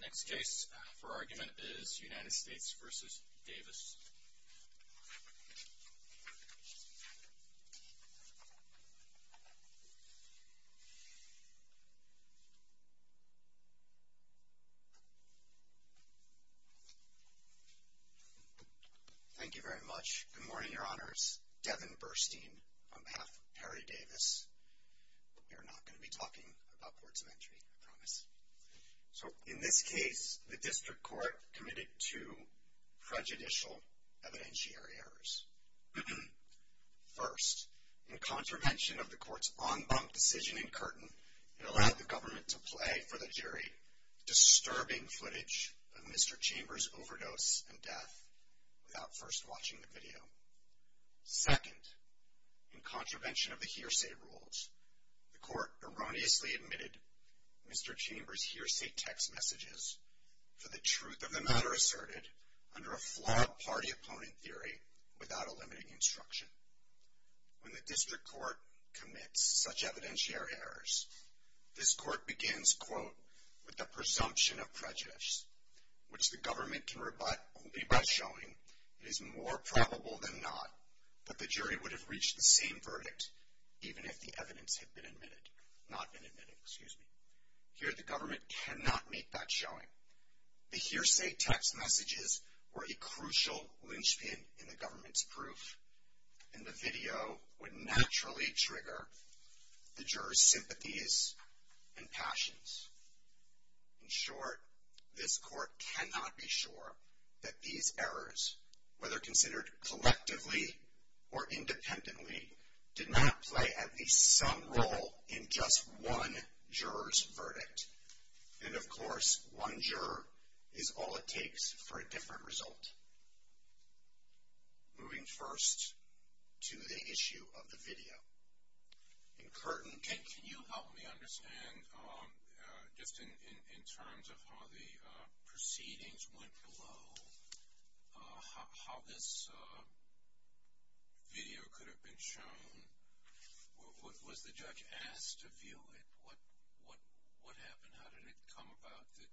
Next case for argument is United States v. Davis Thank you very much. Good morning, your honors. Devin Burstein on behalf of Perry Davis. We are not going to be talking about courts of entry, I promise. So in this case, the district court committed two prejudicial evidentiary errors. First, in contravention of the court's en banc decision in Curtin, it allowed the government to play for the jury disturbing footage of Mr. Chambers' overdose and death without first watching the video. Second, in contravention of the hearsay rules, the court erroneously admitted Mr. Chambers' hearsay text messages for the truth of the matter asserted under a flawed party-opponent theory without eliminating instruction. When the district court commits such evidentiary errors, this court begins, quote, with the presumption of prejudice, which the government can rebut only by showing it is more probable than not that the jury would have reached the same The hearsay text messages were a crucial linchpin in the government's proof, and the video would naturally trigger the jurors' sympathies and passions. In short, this court cannot be sure that these errors, whether considered collectively or independently, did not play at least some part in the court's verdict. And, of course, one juror is all it takes for a different result. Moving first to the issue of the video. In Curtin, can you help me understand, just in terms of how the proceedings went below, how this video could have been shown, what was the judge asked to view it, what happened, how did it come about that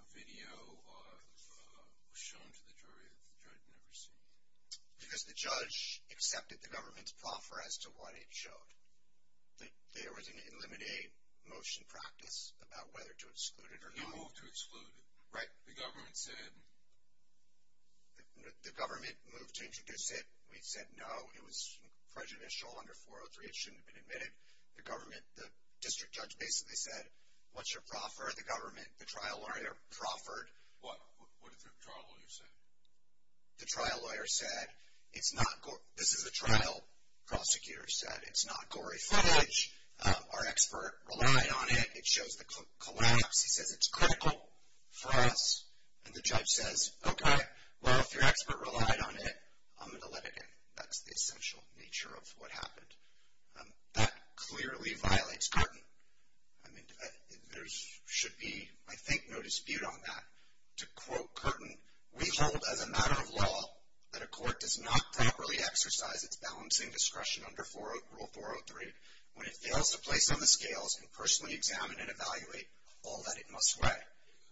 a video was shown to the jury that the judge had never seen it? Because the judge accepted the government's proffer as to what it showed. There was an eliminate motion practice about whether to exclude it or not. He moved to exclude it. Right. The government said... The government moved to introduce it. We said no, it was prejudicial under 403, it shouldn't have been admitted. The district judge basically said, what's your proffer? The government, the trial lawyer, proffered. What did the trial lawyer say? The trial lawyer said, this is a trial, prosecutor said, it's not gory footage. Our expert relied on it. It shows the collapse. He says it's critical for us. And the judge says, okay, well, if your expert relied on it, I'm going to let it in. That's the essential nature of what happened. That clearly violates Curtin. I mean, there should be, I think, no dispute on that. To quote Curtin, we hold as a matter of law that a court does not properly exercise its balancing discretion under rule 403 when it fails to place on the scales and personally examine and evaluate all that it must weigh.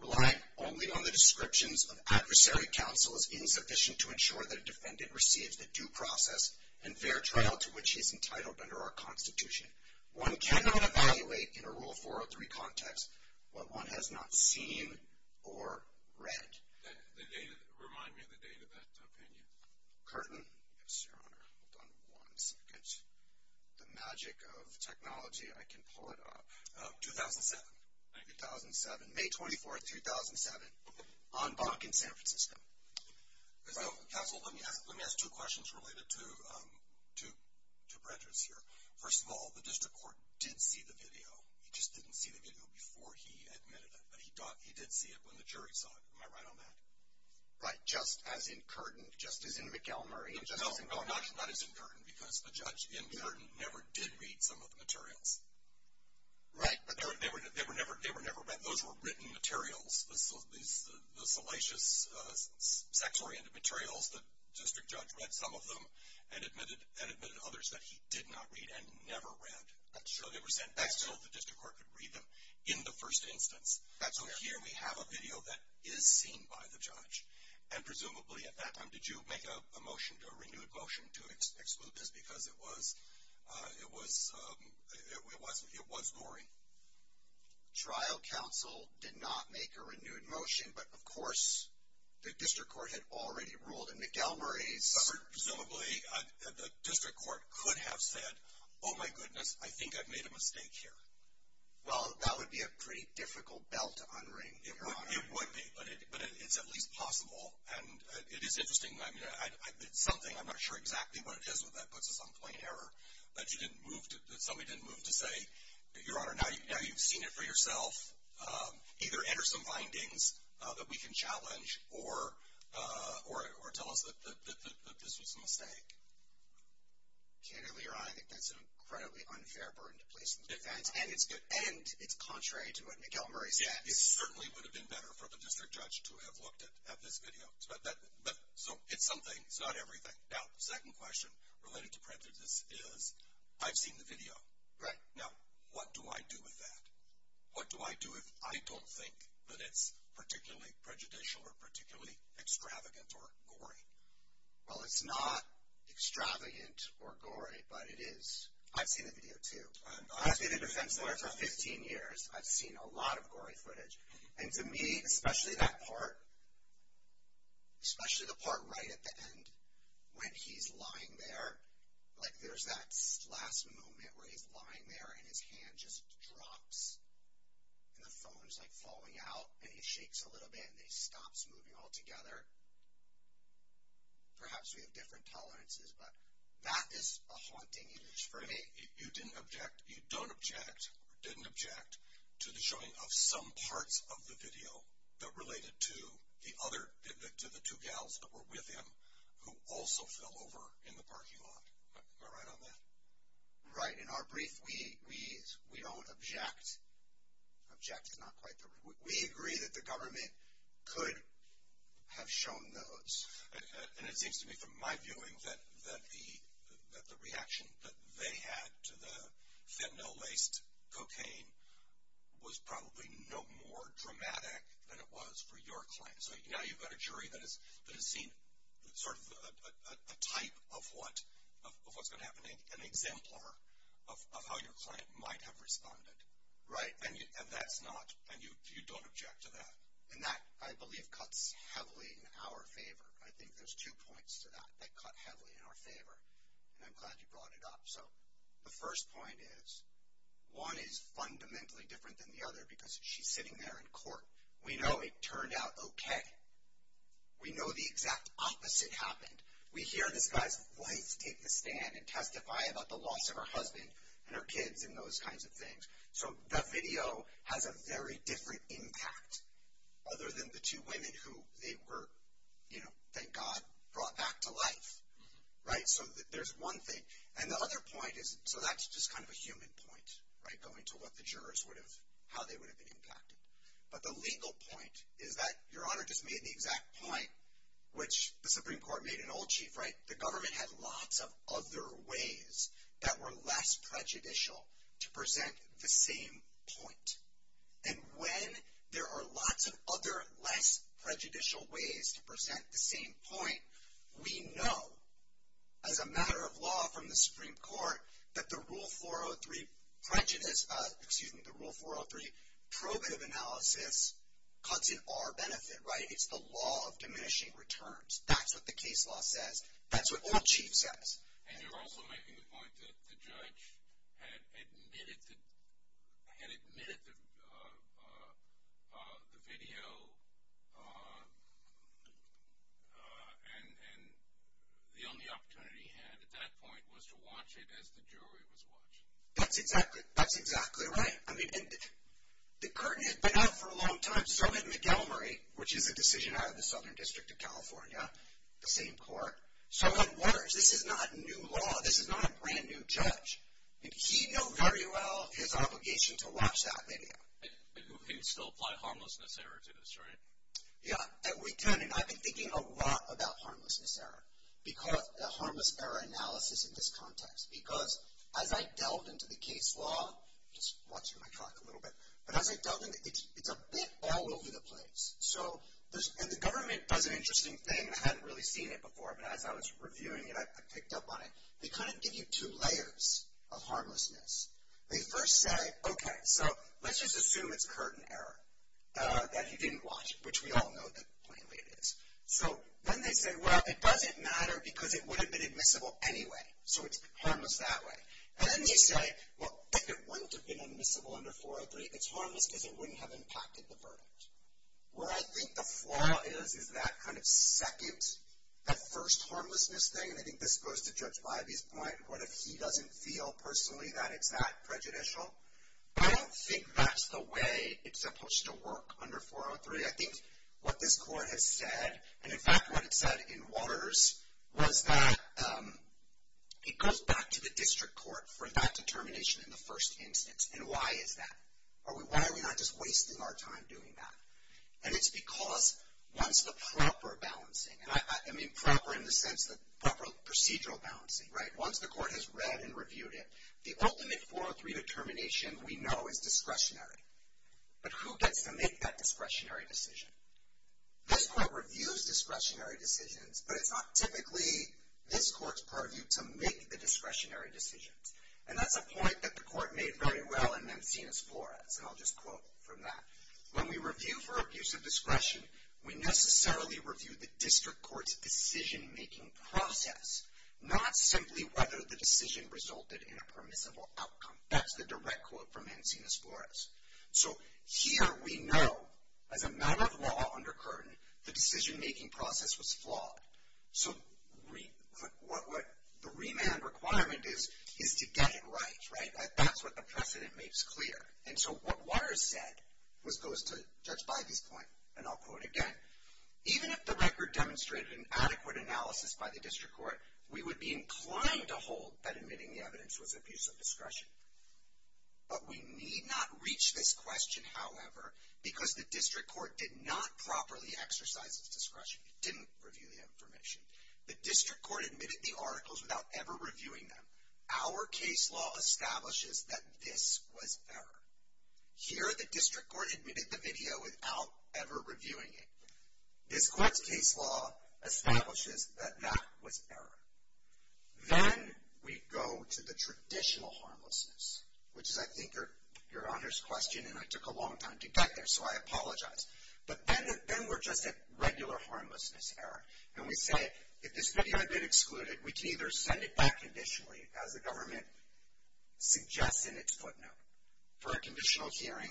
Relying only on the descriptions of adversary counsel is insufficient to ensure that a defendant receives the due process and fair trial to which he is entitled under our Constitution. One cannot evaluate in a rule 403 context what one has not seen or read. Remind me of the date of that opinion. Curtin? Yes, Your Honor. Hold on one second. The magic of technology, I can pull it up. 2007. 2007. May 24th, 2007. On Bonk in San Francisco. Counsel, let me ask two questions related to Brenda's here. First of all, the district court did see the video. It just didn't see the video before he admitted it, but he did see it when the jury saw it. Am I right on that? Right, just as in Curtin, just as in McElmurray, and just as in Bonk. No, not as in Curtin, because the judge in Curtin never did read some of the materials. Right. They were never read. Those were written materials, the salacious, sex-oriented materials. The district judge read some of them and admitted others that he did not read and never read. That's true. So they were sent back so the district court could read them in the first instance. That's fair. So here we have a video that is seen by the judge. And presumably at that time, did you make a motion, a renewed motion to exclude this because it was gory? Trial counsel did not make a renewed motion, but of course the district court had already ruled, and McElmurray's- Presumably the district court could have said, oh my goodness, I think I've made a mistake here. Well, that would be a pretty difficult bell to unring, Your Honor. It would be, but it's at least possible, and it is interesting. I mean, it's something, I'm not sure exactly what it is, but that puts us on point error that you didn't move to, that somebody didn't move to say, Your Honor, now you've seen it for yourself, either enter some findings that we can challenge or tell us that this was a mistake. Candidly, Your Honor, I think that's an incredibly unfair burden to place on the defense, and it's contrary to what McElmurray said. It certainly would have been better for the district judge to have looked at this video. So it's something, it's not everything. Now, the second question related to prejudice is, I've seen the video. Right. Now, what do I do with that? What do I do if I don't think that it's particularly prejudicial or particularly extravagant or gory? Well, it's not extravagant or gory, but it is, I've seen the video too. I've been a defense lawyer for 15 years. I've seen a lot of gory footage. And to me, especially that part, especially the part right at the end when he's lying there, like there's that last moment where he's lying there and his hand just drops, and the phone is, like, falling out, and he shakes a little bit, and he stops moving altogether. Perhaps we have different tolerances, but that is a haunting image for me. You didn't object, you don't object or didn't object to the showing of some parts of the video that related to the other, to the two gals that were with him who also fell over in the parking lot. Am I right on that? Right. In our brief, we don't object. Object is not quite the right word. We agree that the government could have shown those. And it seems to me, from my viewing, that the reaction that they had to the fentanyl-laced cocaine was probably no more dramatic than it was for your client. So now you've got a jury that has seen sort of a type of what's going to happen, an exemplar of how your client might have responded. Right. And that's not, and you don't object to that. And that, I believe, cuts heavily in our favor. I think there's two points to that that cut heavily in our favor. And I'm glad you brought it up. So the first point is, one is fundamentally different than the other because she's sitting there in court. We know it turned out okay. We know the exact opposite happened. We hear this guy's wife take the stand and testify about the loss of her husband and her kids and those kinds of things. So the video has a very different impact other than the two women who they were, you know, thank God, brought back to life. Right. So there's one thing. And the other point is, so that's just kind of a human point, right, going to what the jurors would have, how they would have been impacted. But the legal point is that Your Honor just made the exact point, which the Supreme Court made in Old Chief, right, the government had lots of other ways that were less prejudicial to present the same point. And when there are lots of other less prejudicial ways to present the same point, we know as a matter of law from the Supreme Court that the Rule 403 prejudice, excuse me, the Rule 403 probative analysis cuts in our benefit, right. It's the law of diminishing returns. That's what the case law says. That's what Old Chief says. And you're also making the point that the judge had admitted the video and the only opportunity he had at that point was to watch it as the jury was watching. That's exactly right. I mean, but now for a long time, so had McElmurray, which is a decision out of the Southern District of California, the same court. So in words, this is not new law. This is not a brand-new judge. And he knew very well his obligation to watch that video. And he would still apply harmlessness error to this, right? Yeah. And returning, I've been thinking a lot about harmlessness error, the harmless error analysis in this context. Because as I delved into the case law, just watching my clock a little bit, but as I delved into it, it's a bit all over the place. And the government does an interesting thing. I hadn't really seen it before, but as I was reviewing it, I picked up on it. They kind of give you two layers of harmlessness. They first say, okay, so let's just assume it's curtain error, that he didn't watch it, which we all know that plainly it is. So then they say, well, it doesn't matter because it would have been admissible anyway. So it's harmless that way. And then they say, well, if it wouldn't have been admissible under 403, it's harmless because it wouldn't have impacted the verdict. Where I think the flaw is, is that kind of second, that first harmlessness thing, and I think this goes to Judge Ivey's point, what if he doesn't feel personally that it's that prejudicial? I don't think that's the way it's supposed to work under 403. I think what this court has said, and in fact what it said in Waters, was that it goes back to the district court for that determination in the first instance. And why is that? Why are we not just wasting our time doing that? And it's because once the proper balancing, I mean proper in the sense, the proper procedural balancing, right, once the court has read and reviewed it, the ultimate 403 determination we know is discretionary. But who gets to make that discretionary decision? This court reviews discretionary decisions, but it's not typically this court's purview to make the discretionary decisions. And that's a point that the court made very well in Mancinas-Flores, and I'll just quote from that. When we review for abuse of discretion, we necessarily review the district court's decision-making process, not simply whether the decision resulted in a permissible outcome. That's the direct quote from Mancinas-Flores. So here we know, as a matter of law under Curtin, the decision-making process was flawed. So the remand requirement is to get it right, right? That's what the precedent makes clear. And so what Waters said goes to Judge Bybee's point, and I'll quote again. Even if the record demonstrated an adequate analysis by the district court, we would be inclined to hold that admitting the evidence was abuse of discretion. But we need not reach this question, however, because the district court did not properly exercise its discretion. It didn't review the information. The district court admitted the articles without ever reviewing them. Our case law establishes that this was error. Here the district court admitted the video without ever reviewing it. This court's case law establishes that that was error. Then we go to the traditional harmlessness, which is, I think, your honor's question, and I took a long time to get there, so I apologize. But then we're just at regular harmlessness error, and we say, if this video had been excluded, we can either send it back conditionally, as the government suggests in its footnote, for a conditional hearing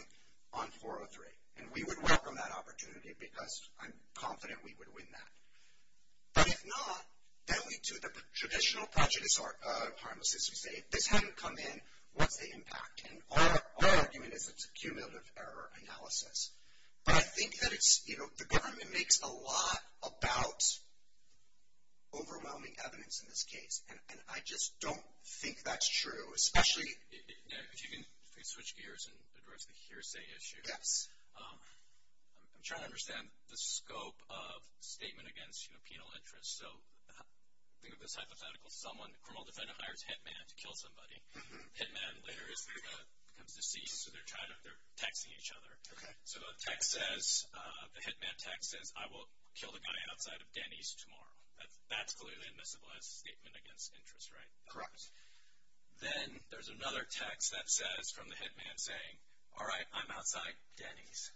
on 403. And we would welcome that opportunity, because I'm confident we would win that. But if not, then we do the traditional prejudice harmlessness. We say, if this hadn't come in, what's the impact? And our argument is it's a cumulative error analysis. But I think that it's, you know, the government makes a lot about overwhelming evidence in this case, and I just don't think that's true, especially... If you can switch gears and address the hearsay issue. Yes. I'm trying to understand the scope of statement against, you know, penal interest. So think of this hypothetical. Someone, the criminal defendant, hires Hitman to kill somebody. Hitman later becomes deceased, so they're texting each other. Okay. So the text says, the Hitman text says, I will kill the guy outside of Denny's tomorrow. That's clearly admissible as a statement against interest, right? Correct. Then there's another text that says from the Hitman saying, all right, I'm outside Denny's.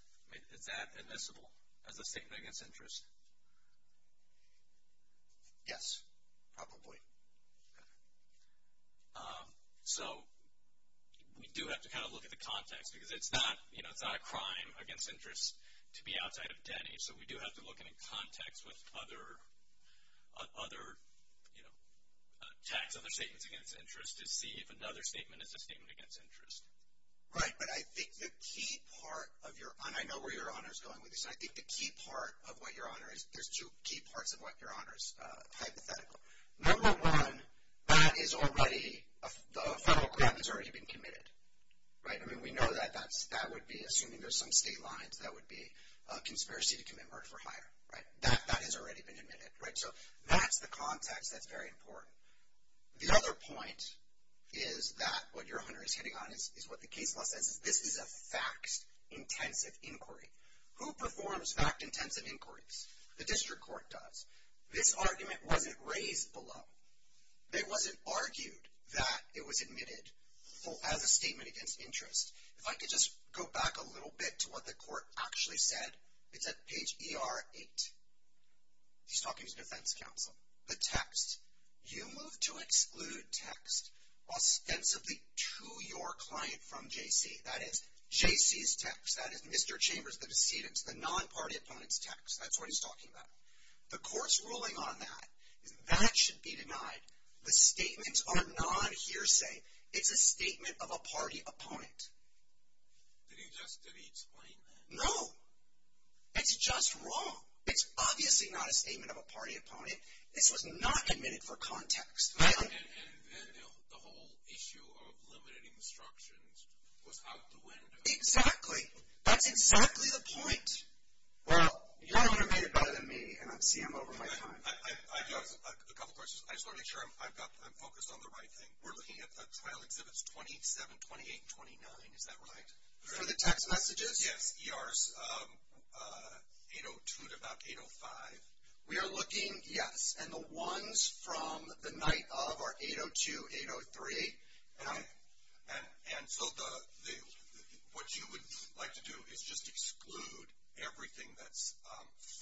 Is that admissible as a statement against interest? Yes, probably. So we do have to kind of look at the context, because it's not, you know, it's not a crime against interest to be outside of Denny's. So we do have to look at it in context with other, you know, tax other statements against interest to see if another statement is a statement against interest. Right, but I think the key part of your, and I know where your honor is going with this, and I think the key part of what your honor is, there's two key parts of what your honor is, hypothetically. Number one, that is already, the federal crime has already been committed, right? I mean, we know that that would be, assuming there's some state lines, that would be a conspiracy to commit murder for hire, right? That has already been admitted, right? So that's the context that's very important. The other point is that what your honor is hitting on is what the case law says. This is a fact-intensive inquiry. Who performs fact-intensive inquiries? The district court does. This argument wasn't raised below. It wasn't argued that it was admitted as a statement against interest. If I could just go back a little bit to what the court actually said, it's at page ER-8. He's talking to defense counsel. The text, you move to exclude text ostensibly to your client from JC. That is JC's text. That is Mr. Chambers, the decedent's, the non-party opponent's text. That's what he's talking about. The court's ruling on that is that should be denied. The statements are non-hearsay. It's a statement of a party opponent. Did he just explain that? No. It's just wrong. It's obviously not a statement of a party opponent. This was not admitted for context. And then the whole issue of limiting instructions was out the window. Exactly. That's exactly the point. Well, you're motivated better than me, and I see I'm over my time. I have a couple questions. I just want to make sure I'm focused on the right thing. We're looking at the trial exhibits 27, 28, 29. Is that right? For the text messages? Yes. ER's 802 to about 805. We are looking, yes. And the ones from the night of are 802, 803. And so what you would like to do is just exclude everything that's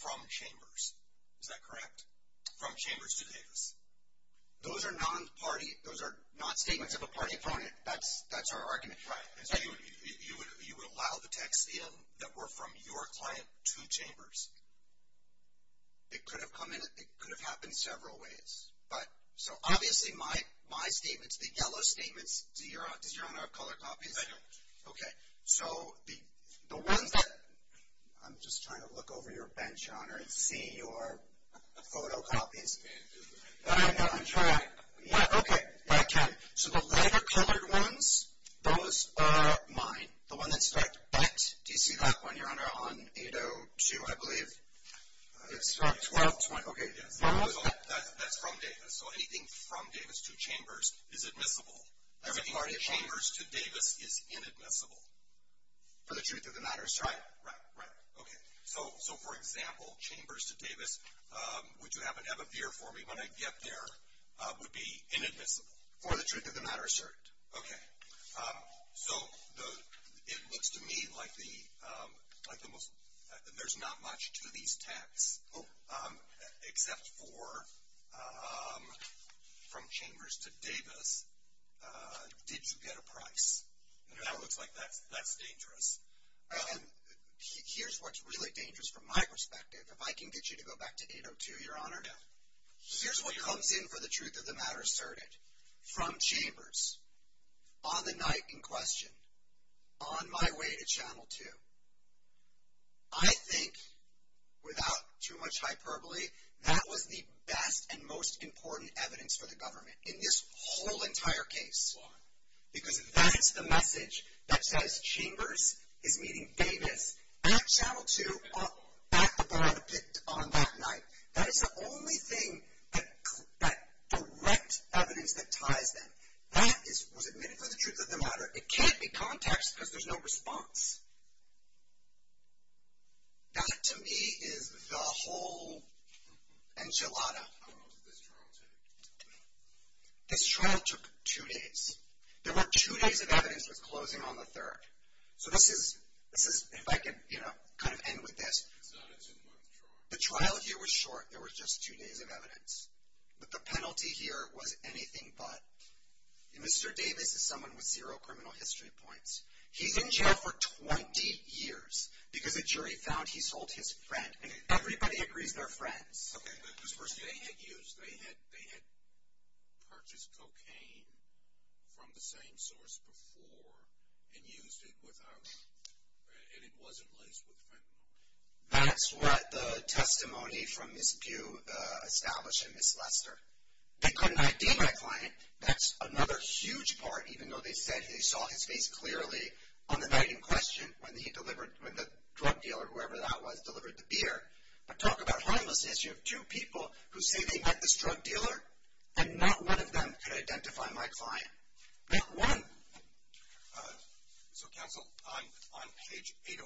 from Chambers. Is that correct? From Chambers to Davis. Those are non-party. Those are not statements of a party opponent. That's our argument. Right. And so you would allow the texts that were from your client to Chambers? It could have come in. It could have happened several ways. So obviously my statements, the yellow statements, does Your Honor have color copies? I don't. Okay. So the ones that – I'm just trying to look over your bench, Your Honor, and see your photocopies. You can't do that. I know. I'm trying. Okay. I can. So the lighter colored ones, those are mine. The one that's like that, do you see that one, Your Honor, on 802, I believe? It's from 1220. Okay. Yes. That's from Davis. So anything from Davis to Chambers is admissible. Everything from Chambers to Davis is inadmissible. For the truth of the matter, sir. Right. Right. Right. Okay. So, for example, Chambers to Davis, would you happen to have a beer for me when I get there, would be inadmissible. For the truth of the matter, sir. Okay. So it looks to me like there's not much to these texts except for from Chambers to Davis, did you get a price. Now it looks like that's dangerous. Here's what's really dangerous from my perspective. If I can get you to go back to 802, Your Honor. Yes. Here's what comes in for the truth of the matter, sir. From Chambers. On the night in question. On my way to Channel 2. I think, without too much hyperbole, that was the best and most important evidence for the government. In this whole entire case. Why? Because that's the message that says Chambers is meeting Davis at Channel 2 at the bar on that night. That is the only thing, that direct evidence that ties them. That was admitted for the truth of the matter. It can't be context because there's no response. That, to me, is the whole enchilada. How long did this trial take? This trial took two days. There were two days of evidence with closing on the third. So this is, if I can kind of end with this. It's not a two month trial. The trial here was short. There was just two days of evidence. But the penalty here was anything but. Mr. Davis is someone with zero criminal history points. He's in jail for 20 years because a jury found he sold his friend. And everybody agrees they're friends. They had purchased cocaine from the same source before and used it without, and it wasn't laced with fentanyl. That's what the testimony from Ms. Pugh established in Ms. Lester. They couldn't ID my client. That's another huge part, even though they said they saw his face clearly on the night in question when the drug dealer, whoever that was, delivered the beer. But talk about harmlessness. You have two people who say they met this drug dealer. And not one of them could identify my client. Not one. So, counsel, I'm on page 805.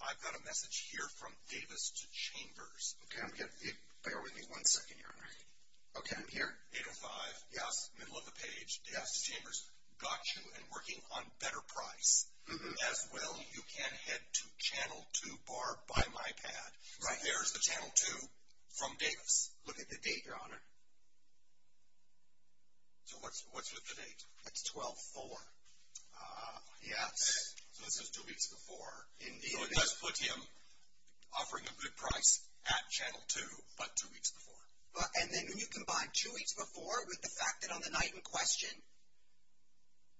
I've got a message here from Davis to Chambers. Okay. Bear with me one second, Your Honor. Okay. I'm here. 805. Yes. Middle of the page. Yes. To Chambers. Got you and working on better price. As well, you can head to channel 2 bar by my pad. Right. There's the channel 2 from Davis. Look at the date, Your Honor. So what's with the date? It's 12-4. Yes. So this is two weeks before. It does put him offering a good price at channel 2, but two weeks before. And then when you combine two weeks before with the fact that on the night in question,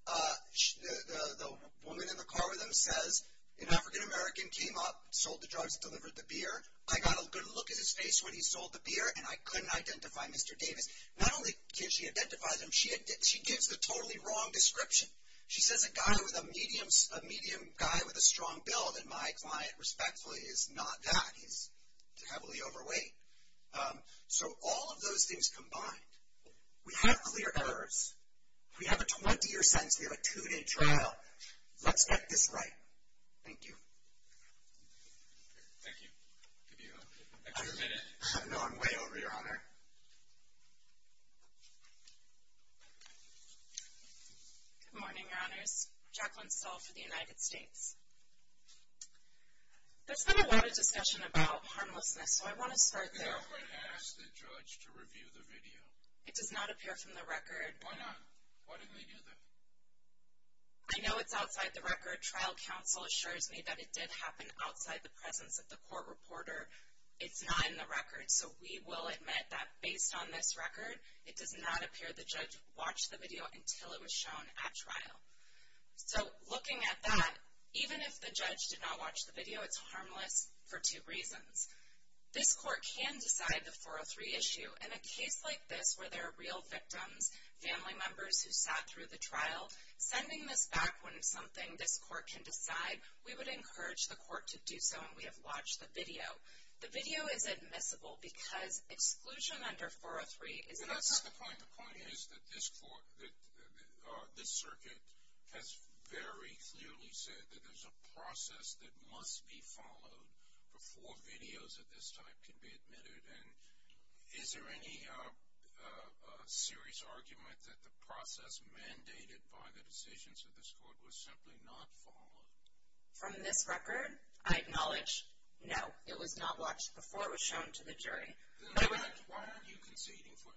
the woman in the car with him says, an African-American came up, sold the drugs, delivered the beer. I got a good look at his face when he sold the beer, and I couldn't identify Mr. Davis. Not only can't she identify him, she gives the totally wrong description. She says a guy was a medium guy with a strong build, and my client, respectfully, is not that. He's heavily overweight. So all of those things combined, we have clear errors. We have a 20-year sentence. We have a two-day trial. Let's get this right. Thank you. Thank you. Do you have a minute? No, I'm way over, Your Honor. Good morning, Your Honors. Jacqueline Stahl for the United States. There's been a lot of discussion about harmlessness, so I want to start there. Jacqueline asked the judge to review the video. It does not appear from the record. Why not? Why didn't they do that? I know it's outside the record. Your trial counsel assures me that it did happen outside the presence of the court reporter. It's not in the record. So we will admit that based on this record, it does not appear the judge watched the video until it was shown at trial. So looking at that, even if the judge did not watch the video, it's harmless for two reasons. This court can decide the 403 issue. In a case like this where there are real victims, family members who sat through the trial, sending this back wouldn't be something this court can decide. We would encourage the court to do so, and we have watched the video. The video is admissible because exclusion under 403 is not. That's not the point. The point is that this circuit has very clearly said that there's a process that must be followed before videos of this type can be admitted. And is there any serious argument that the process mandated by the decisions of this court was simply not followed? From this record, I acknowledge, no, it was not watched before it was shown to the jury. In fact, why aren't you conceding for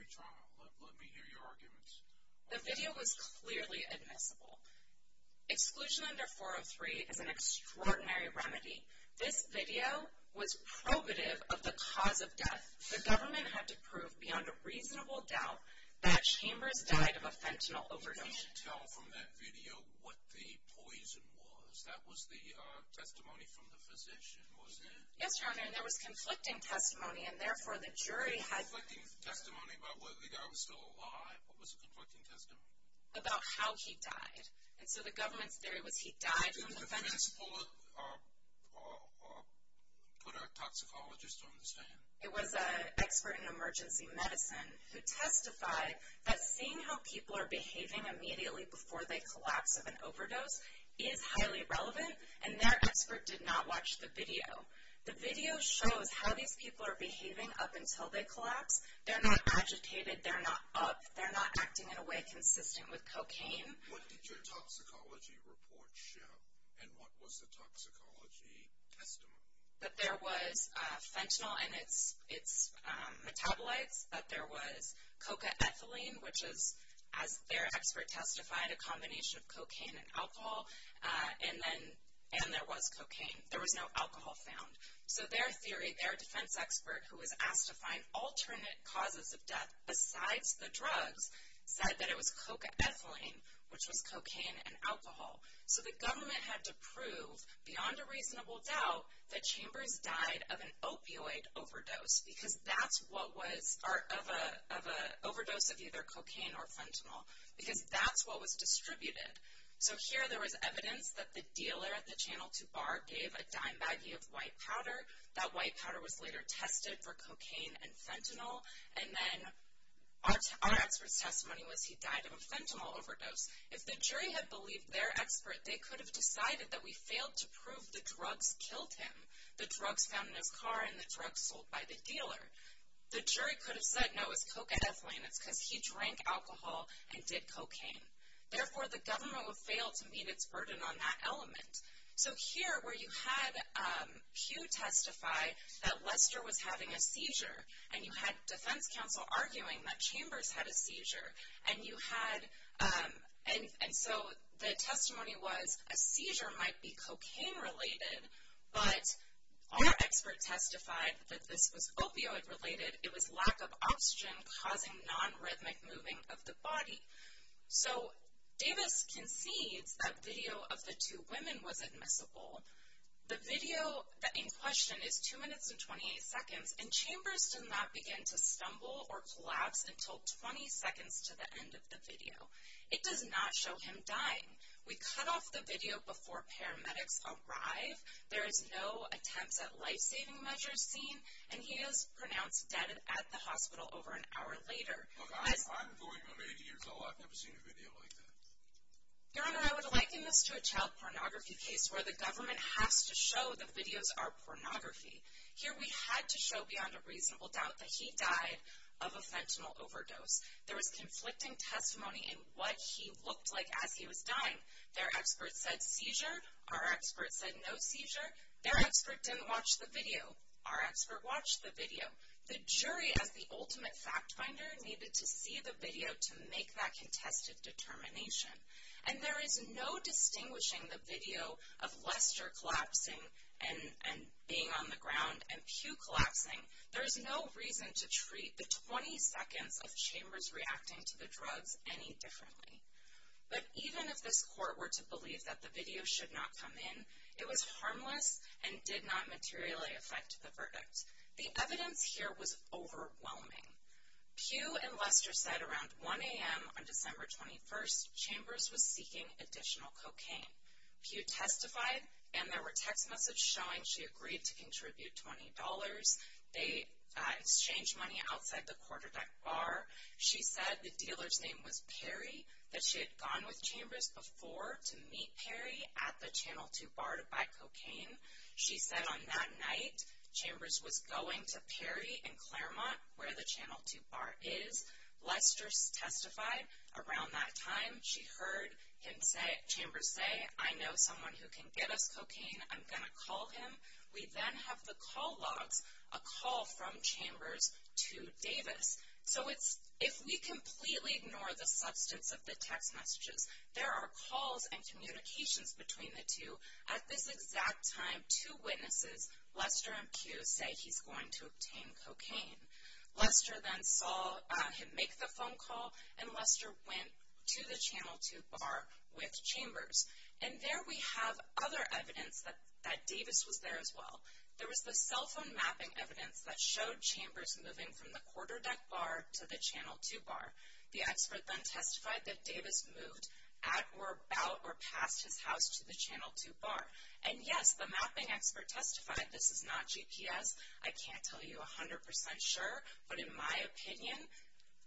retrial? Let me hear your arguments. The video was clearly admissible. Exclusion under 403 is an extraordinary remedy. This video was probative of the cause of death. The government had to prove beyond a reasonable doubt that Chambers died of a fentanyl overdose. You can't tell from that video what the poison was. That was the testimony from the physician, wasn't it? Yes, Your Honor, and there was conflicting testimony, and therefore the jury had to. Conflicting testimony about whether the guy was still alive. What was the conflicting testimony? About how he died. And so the government's theory was he died from the fentanyl. Ms. Fuller put a toxicologist on the stand. It was an expert in emergency medicine who testified that seeing how people are behaving immediately before they collapse of an overdose is highly relevant, and their expert did not watch the video. The video shows how these people are behaving up until they collapse. They're not agitated. They're not up. They're not acting in a way consistent with cocaine. What did your toxicology report show, and what was the toxicology testimony? That there was fentanyl in its metabolites, that there was cocaethylene, which is, as their expert testified, a combination of cocaine and alcohol, and there was cocaine. There was no alcohol found. So their theory, their defense expert, who was asked to find alternate causes of death besides the drugs, said that it was cocaethylene, which was cocaine and alcohol. So the government had to prove, beyond a reasonable doubt, that Chambers died of an opioid overdose, because that's what was part of an overdose of either cocaine or fentanyl, because that's what was distributed. So here there was evidence that the dealer at the Channel 2 bar gave a dime baggie of white powder. That white powder was later tested for cocaine and fentanyl. And then our expert's testimony was he died of a fentanyl overdose. If the jury had believed their expert, they could have decided that we failed to prove the drugs killed him, the drugs found in his car and the drugs sold by the dealer. The jury could have said, no, it was cocaethylene. It's because he drank alcohol and did cocaine. Therefore, the government would fail to meet its burden on that element. So here, where you had Hugh testify that Lester was having a seizure, and you had defense counsel arguing that Chambers had a seizure, and so the testimony was a seizure might be cocaine-related, but our expert testified that this was opioid-related. It was lack of oxygen causing nonrhythmic moving of the body. So Davis concedes that video of the two women was admissible. The video in question is 2 minutes and 28 seconds, and Chambers did not begin to stumble or collapse until 20 seconds to the end of the video. It does not show him dying. We cut off the video before paramedics arrive. There is no attempt at life-saving measures seen, and he is pronounced dead at the hospital over an hour later. Look, I'm going on 80 years old. I've never seen a video like that. Your Honor, I would liken this to a child pornography case where the government has to show the videos are pornography. Here we had to show beyond a reasonable doubt that he died of a fentanyl overdose. There was conflicting testimony in what he looked like as he was dying. Their expert said seizure. Our expert said no seizure. Their expert didn't watch the video. Our expert watched the video. The jury, as the ultimate fact finder, needed to see the video to make that contested determination. And there is no distinguishing the video of Lester collapsing and being on the ground and Pew collapsing. There's no reason to treat the 20 seconds of Chambers reacting to the drugs any differently. But even if this court were to believe that the video should not come in, it was harmless and did not materially affect the verdict. The evidence here was overwhelming. Pew and Lester said around 1 a.m. on December 21st, Chambers was seeking additional cocaine. Pew testified, and there were text messages showing she agreed to contribute $20. They exchanged money outside the Quarterdeck bar. She said the dealer's name was Perry, that she had gone with Chambers before to meet Perry at the Channel 2 bar to buy cocaine. She said on that night, Chambers was going to Perry and Claremont, where the Channel 2 bar is. Lester testified around that time. She heard Chambers say, I know someone who can get us cocaine. I'm going to call him. We then have the call logs, a call from Chambers to Davis. So if we completely ignore the substance of the text messages, there are calls and communications between the two. At this exact time, two witnesses, Lester and Pew, say he's going to obtain cocaine. Lester then saw him make the phone call, and Lester went to the Channel 2 bar with Chambers. And there we have other evidence that Davis was there as well. There was the cell phone mapping evidence that showed Chambers moving from the Quarterdeck bar to the Channel 2 bar. The expert then testified that Davis moved at, or about, or past his house to the Channel 2 bar. And, yes, the mapping expert testified, this is not GPS. I can't tell you 100% sure, but in my opinion,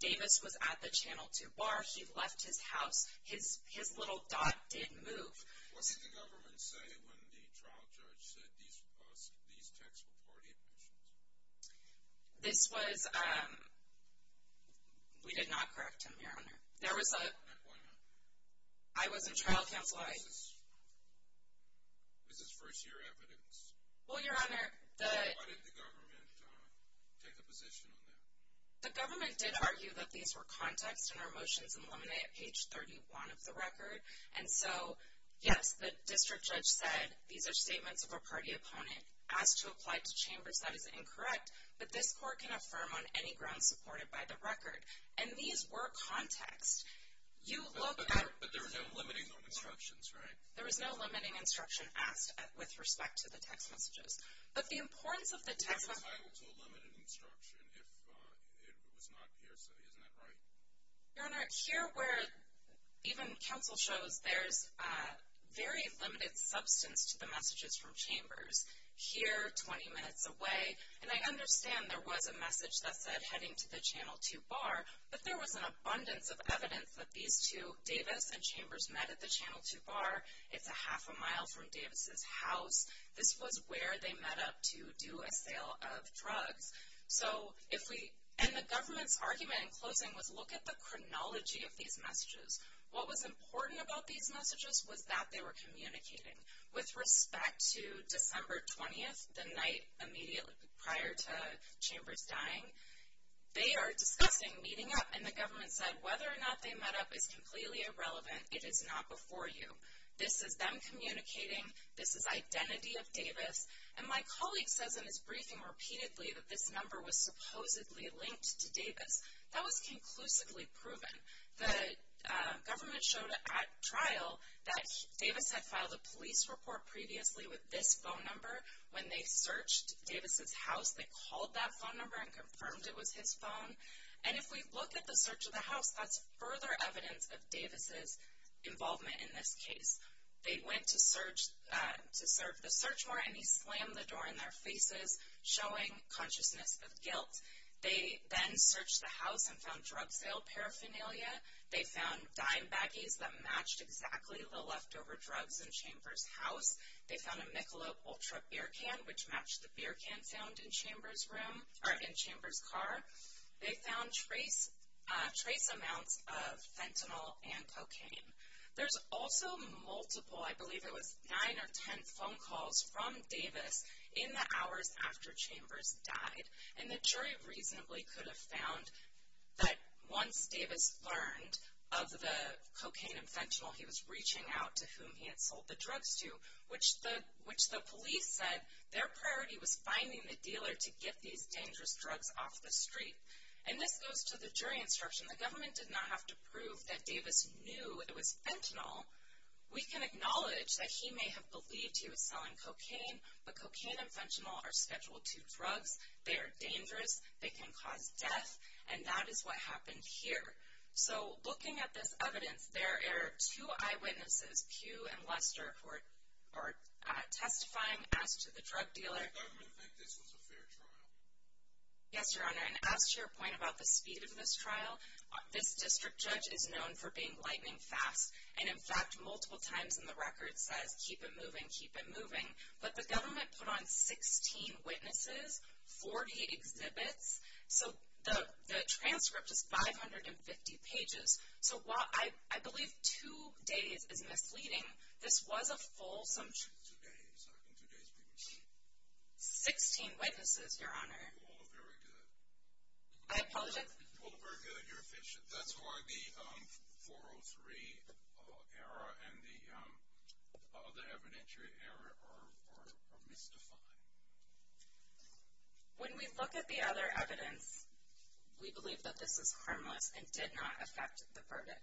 Davis was at the Channel 2 bar. He left his house. His little dot did move. What did the government say when the trial judge said these texts were party officials? This was ‑‑ we did not correct him, Your Honor. There was a ‑‑ Why not? I was in trial counsel. This is first year evidence. Well, Your Honor, the ‑‑ Why didn't the government take a position on that? The government did argue that these were context, and our motions eliminate page 31 of the record. And so, yes, the district judge said these are statements of a party opponent, asked to apply to Chambers. That is incorrect. But this court can affirm on any ground supported by the record. And these were context. You look at ‑‑ But there were no limiting instructions, right? There was no limiting instruction asked with respect to the text messages. But the importance of the text messages ‑‑ It was entitled to a limited instruction if it was not hearsay. Isn't that right? Your Honor, here where even counsel shows there's very limited substance to the messages from Chambers, here 20 minutes away, and I understand there was a message that said heading to the Channel 2 bar, but there was an abundance of evidence that these two, Davis and Chambers, met at the Channel 2 bar. It's a half a mile from Davis' house. This was where they met up to do a sale of drugs. So if we ‑‑ and the government's argument in closing was look at the chronology of these messages. What was important about these messages was that they were communicating. With respect to December 20th, the night immediately prior to Chambers dying, they are discussing meeting up, and the government said whether or not they met up is completely irrelevant. It is not before you. This is them communicating. This is identity of Davis. And my colleague says in his briefing repeatedly that this number was supposedly linked to Davis. That was conclusively proven. The government showed at trial that Davis had filed a police report previously with this phone number. When they searched Davis' house, they called that phone number and confirmed it was his phone. And if we look at the search of the house, that's further evidence of Davis' involvement in this case. They went to search ‑‑ to search the search warrant, and he slammed the door in their faces, showing consciousness of guilt. They then searched the house and found drug sale paraphernalia. They found dime baggies that matched exactly the leftover drugs in Chambers' house. They found a Michelob Ultra beer can, which matched the beer can found in Chambers' room, or in Chambers' car. They found trace amounts of fentanyl and cocaine. There's also multiple, I believe it was nine or ten phone calls from Davis in the hours after Chambers died. And the jury reasonably could have found that once Davis learned of the cocaine and fentanyl he was reaching out to whom he had sold the drugs to, which the police said their priority was finding the dealer to get these dangerous drugs off the street. And this goes to the jury instruction. The government did not have to prove that Davis knew it was fentanyl. We can acknowledge that he may have believed he was selling cocaine, but cocaine and fentanyl are scheduled to drugs. They are dangerous. They can cause death. And that is what happened here. So looking at this evidence, there are two eyewitnesses, Pugh and Lester, who are testifying as to the drug dealer. Does the government think this was a fair trial? Yes, Your Honor. And as to your point about the speed of this trial, this district judge is known for being lightning fast. And, in fact, multiple times in the record says, keep it moving, keep it moving. But the government put on 16 witnesses, 40 exhibits. So the transcript is 550 pages. So while I believe two days is misleading, this was a fulsome trial. Two days. I think two days previously. Sixteen witnesses, Your Honor. You all are very good. I apologize? You all are very good. You're efficient. That's why the 403 error and the evidentiary error are mystified. When we look at the other evidence, we believe that this is harmless and did not affect the verdict.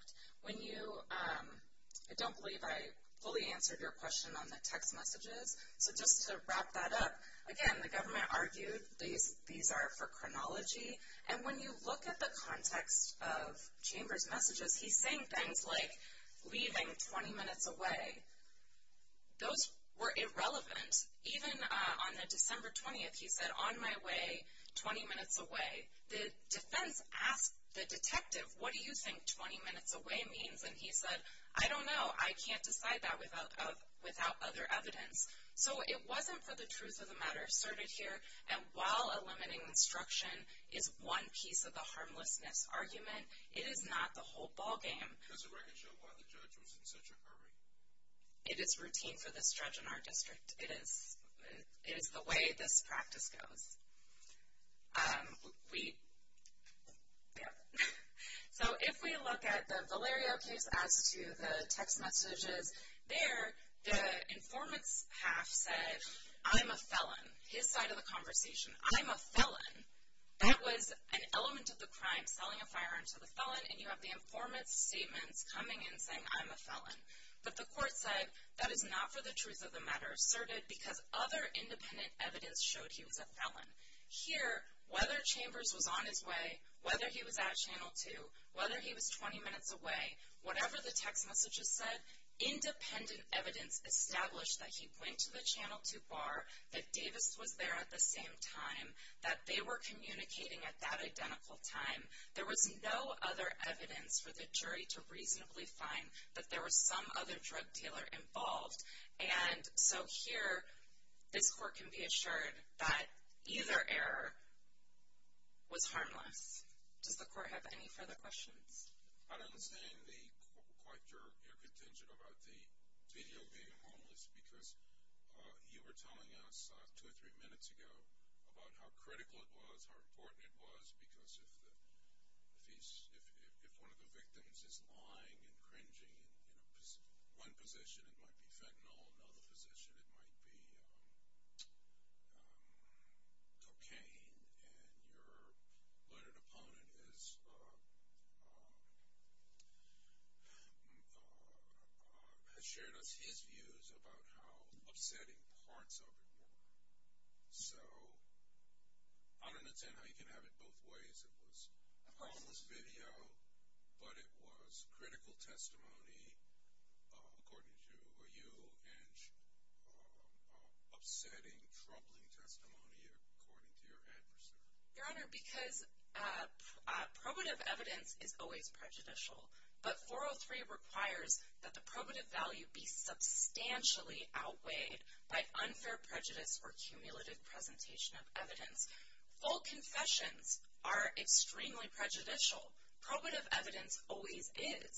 I don't believe I fully answered your question on the text messages. So just to wrap that up, again, the government argued these are for chronology. And when you look at the context of Chambers' messages, he's saying things like leaving 20 minutes away. Those were irrelevant. Even on the December 20th, he said, on my way, 20 minutes away. The defense asked the detective, what do you think 20 minutes away means? And he said, I don't know. I can't decide that without other evidence. So it wasn't for the truth of the matter asserted here. And while eliminating instruction is one piece of the harmlessness argument, it is not the whole ballgame. Does the record show why the judge was in such a hurry? It is routine for this judge in our district. It is the way this practice goes. So if we look at the Valerio case as to the text messages, there the informant's half said, I'm a felon. His side of the conversation, I'm a felon. That was an element of the crime, selling a firearm to the felon, and you have the informant's statements coming in saying, I'm a felon. But the court said, that is not for the truth of the matter asserted because other independent evidence showed he was a felon. Here, whether Chambers was on his way, whether he was at Channel 2, whether he was 20 minutes away, whatever the text messages said, independent evidence established that he went to the Channel 2 bar, that Davis was there at the same time, that they were communicating at that identical time. There was no other evidence for the jury to reasonably find that there was some other drug dealer involved. And so here, this court can be assured that either error was harmless. Does the court have any further questions? I don't understand quite your contention about the video being harmless, because you were telling us two or three minutes ago about how critical it was, how important it was, because if one of the victims is lying and cringing, in one position it might be fentanyl, in another position it might be cocaine, and your learned opponent has shared with us his views about how upsetting parts of it were. So I don't understand how you can have it both ways. It was harmless video, but it was critical testimony according to you, and upsetting, troubling testimony according to your adversary. Your Honor, because probative evidence is always prejudicial, but 403 requires that the probative value be substantially outweighed by unfair prejudice or cumulative presentation of evidence. Full confessions are extremely prejudicial. Probative evidence always is.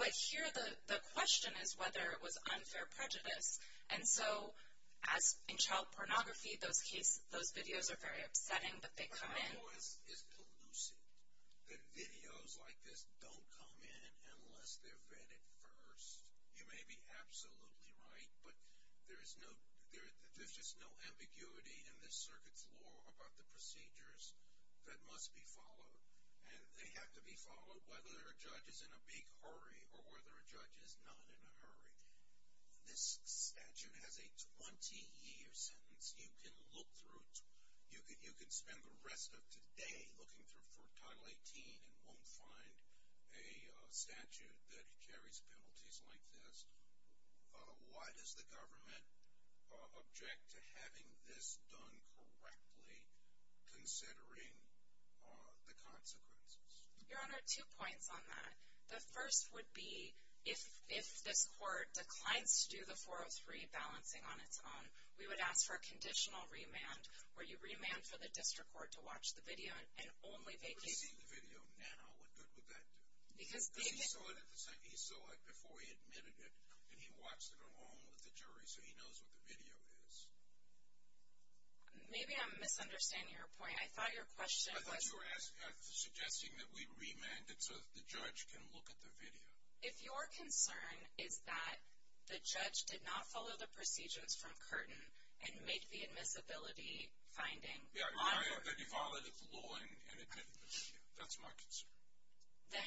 But here, the question is whether it was unfair prejudice. And so, as in child pornography, those videos are very upsetting, but they come in. My voice is elusive. The videos like this don't come in unless they're vetted first. You may be absolutely right, but there's just no ambiguity in this circuit's law about the procedures that must be followed, and they have to be followed whether a judge is in a big hurry or whether a judge is not in a hurry. This statute has a 20-year sentence. You can look through it. You can spend the rest of today looking through it for Title 18 and won't find a statute that carries penalties like this. Why does the government object to having this done correctly, considering the consequences? Your Honor, two points on that. The first would be if this court declines to do the 403 balancing on its own, we would ask for a conditional remand where you remand for the district court to watch the video and only vacate. If they were to see the video now, what good would that do? Because he saw it before he admitted it, and he watched it along with the jury, so he knows what the video is. Maybe I'm misunderstanding your point. I thought your question was... I thought you were suggesting that we remand it so the judge can look at the video. If your concern is that the judge did not follow the procedures from Curtin and make the admissibility finding... That he violated the law and admitted the video. That's my concern. Then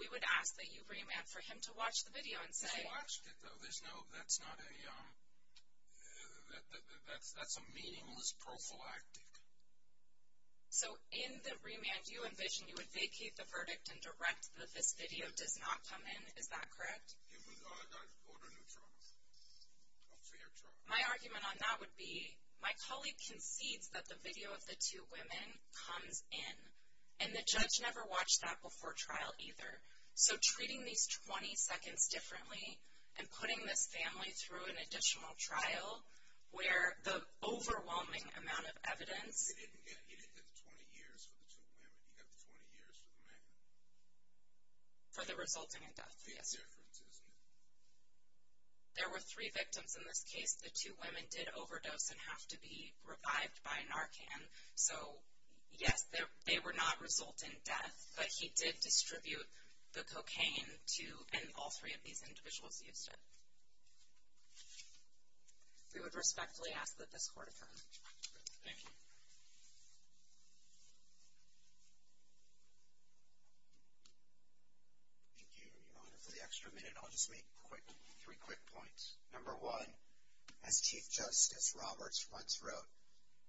we would ask that you remand for him to watch the video and say... He watched it, though. That's a meaningless prophylactic. So in the remand you envision, you would vacate the verdict and direct that this video does not come in. Is that correct? It would go to a new trial, a fair trial. My argument on that would be, my colleague concedes that the video of the two women comes in, and the judge never watched that before trial either. So treating these 20 seconds differently and putting this family through an additional trial where the overwhelming amount of evidence... He didn't get the 20 years for the two women. He got the 20 years for the men. For the resulting in death, yes. Big difference, isn't it? There were three victims in this case. The two women did overdose and have to be revived by Narcan. So yes, they were not resulting in death, but he did distribute the cocaine to... And all three of these individuals used it. We would respectfully ask that this court adjourn. Thank you. Thank you, Your Honor. For the extra minute, I'll just make three quick points. Number one, as Chief Justice Roberts once wrote,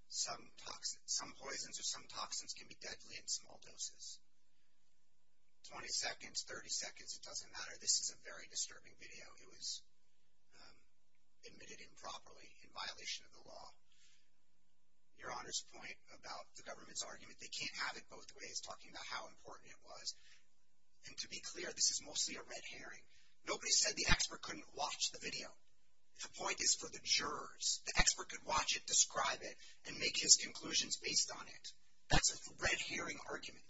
some poisons or some toxins can be deadly in small doses. 20 seconds, 30 seconds, it doesn't matter. This is a very disturbing video. It was admitted improperly in violation of the law. Your Honor's point about the government's argument, they can't have it both ways, talking about how important it was. And to be clear, this is mostly a red herring. Nobody said the expert couldn't watch the video. The point is for the jurors. The expert could watch it, describe it, and make his conclusions based on it. That's a red herring argument.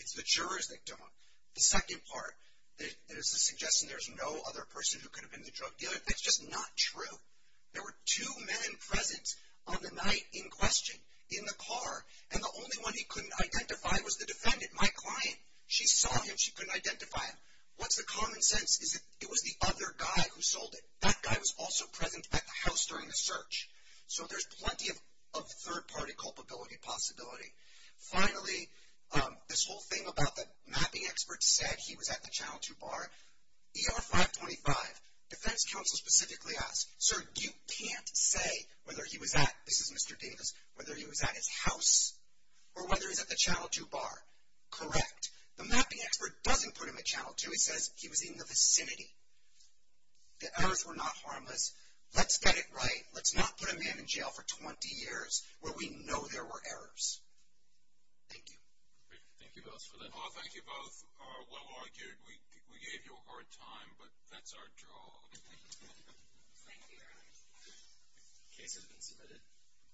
It's the jurors that don't. The second part, there's a suggestion there's no other person who could have been the drug dealer. That's just not true. There were two men present on the night in question in the car, and the only one he couldn't identify was the defendant, my client. She saw him. She couldn't identify him. What's the common sense? It was the other guy who sold it. That guy was also present at the house during the search. So there's plenty of third-party culpability possibility. Finally, this whole thing about the mapping expert said he was at the Channel 2 bar. ER 525, defense counsel specifically asked, sir, you can't say whether he was at, this is Mr. Davis, whether he was at his house or whether he was at the Channel 2 bar. Correct. The mapping expert doesn't put him at Channel 2. He says he was in the vicinity. The errors were not harmless. Let's get it right. Let's not put a man in jail for 20 years where we know there were errors. Thank you. Thank you both for that. Thank you both. Well argued. We gave you a hard time, but that's our job. Thank you. The case has been submitted.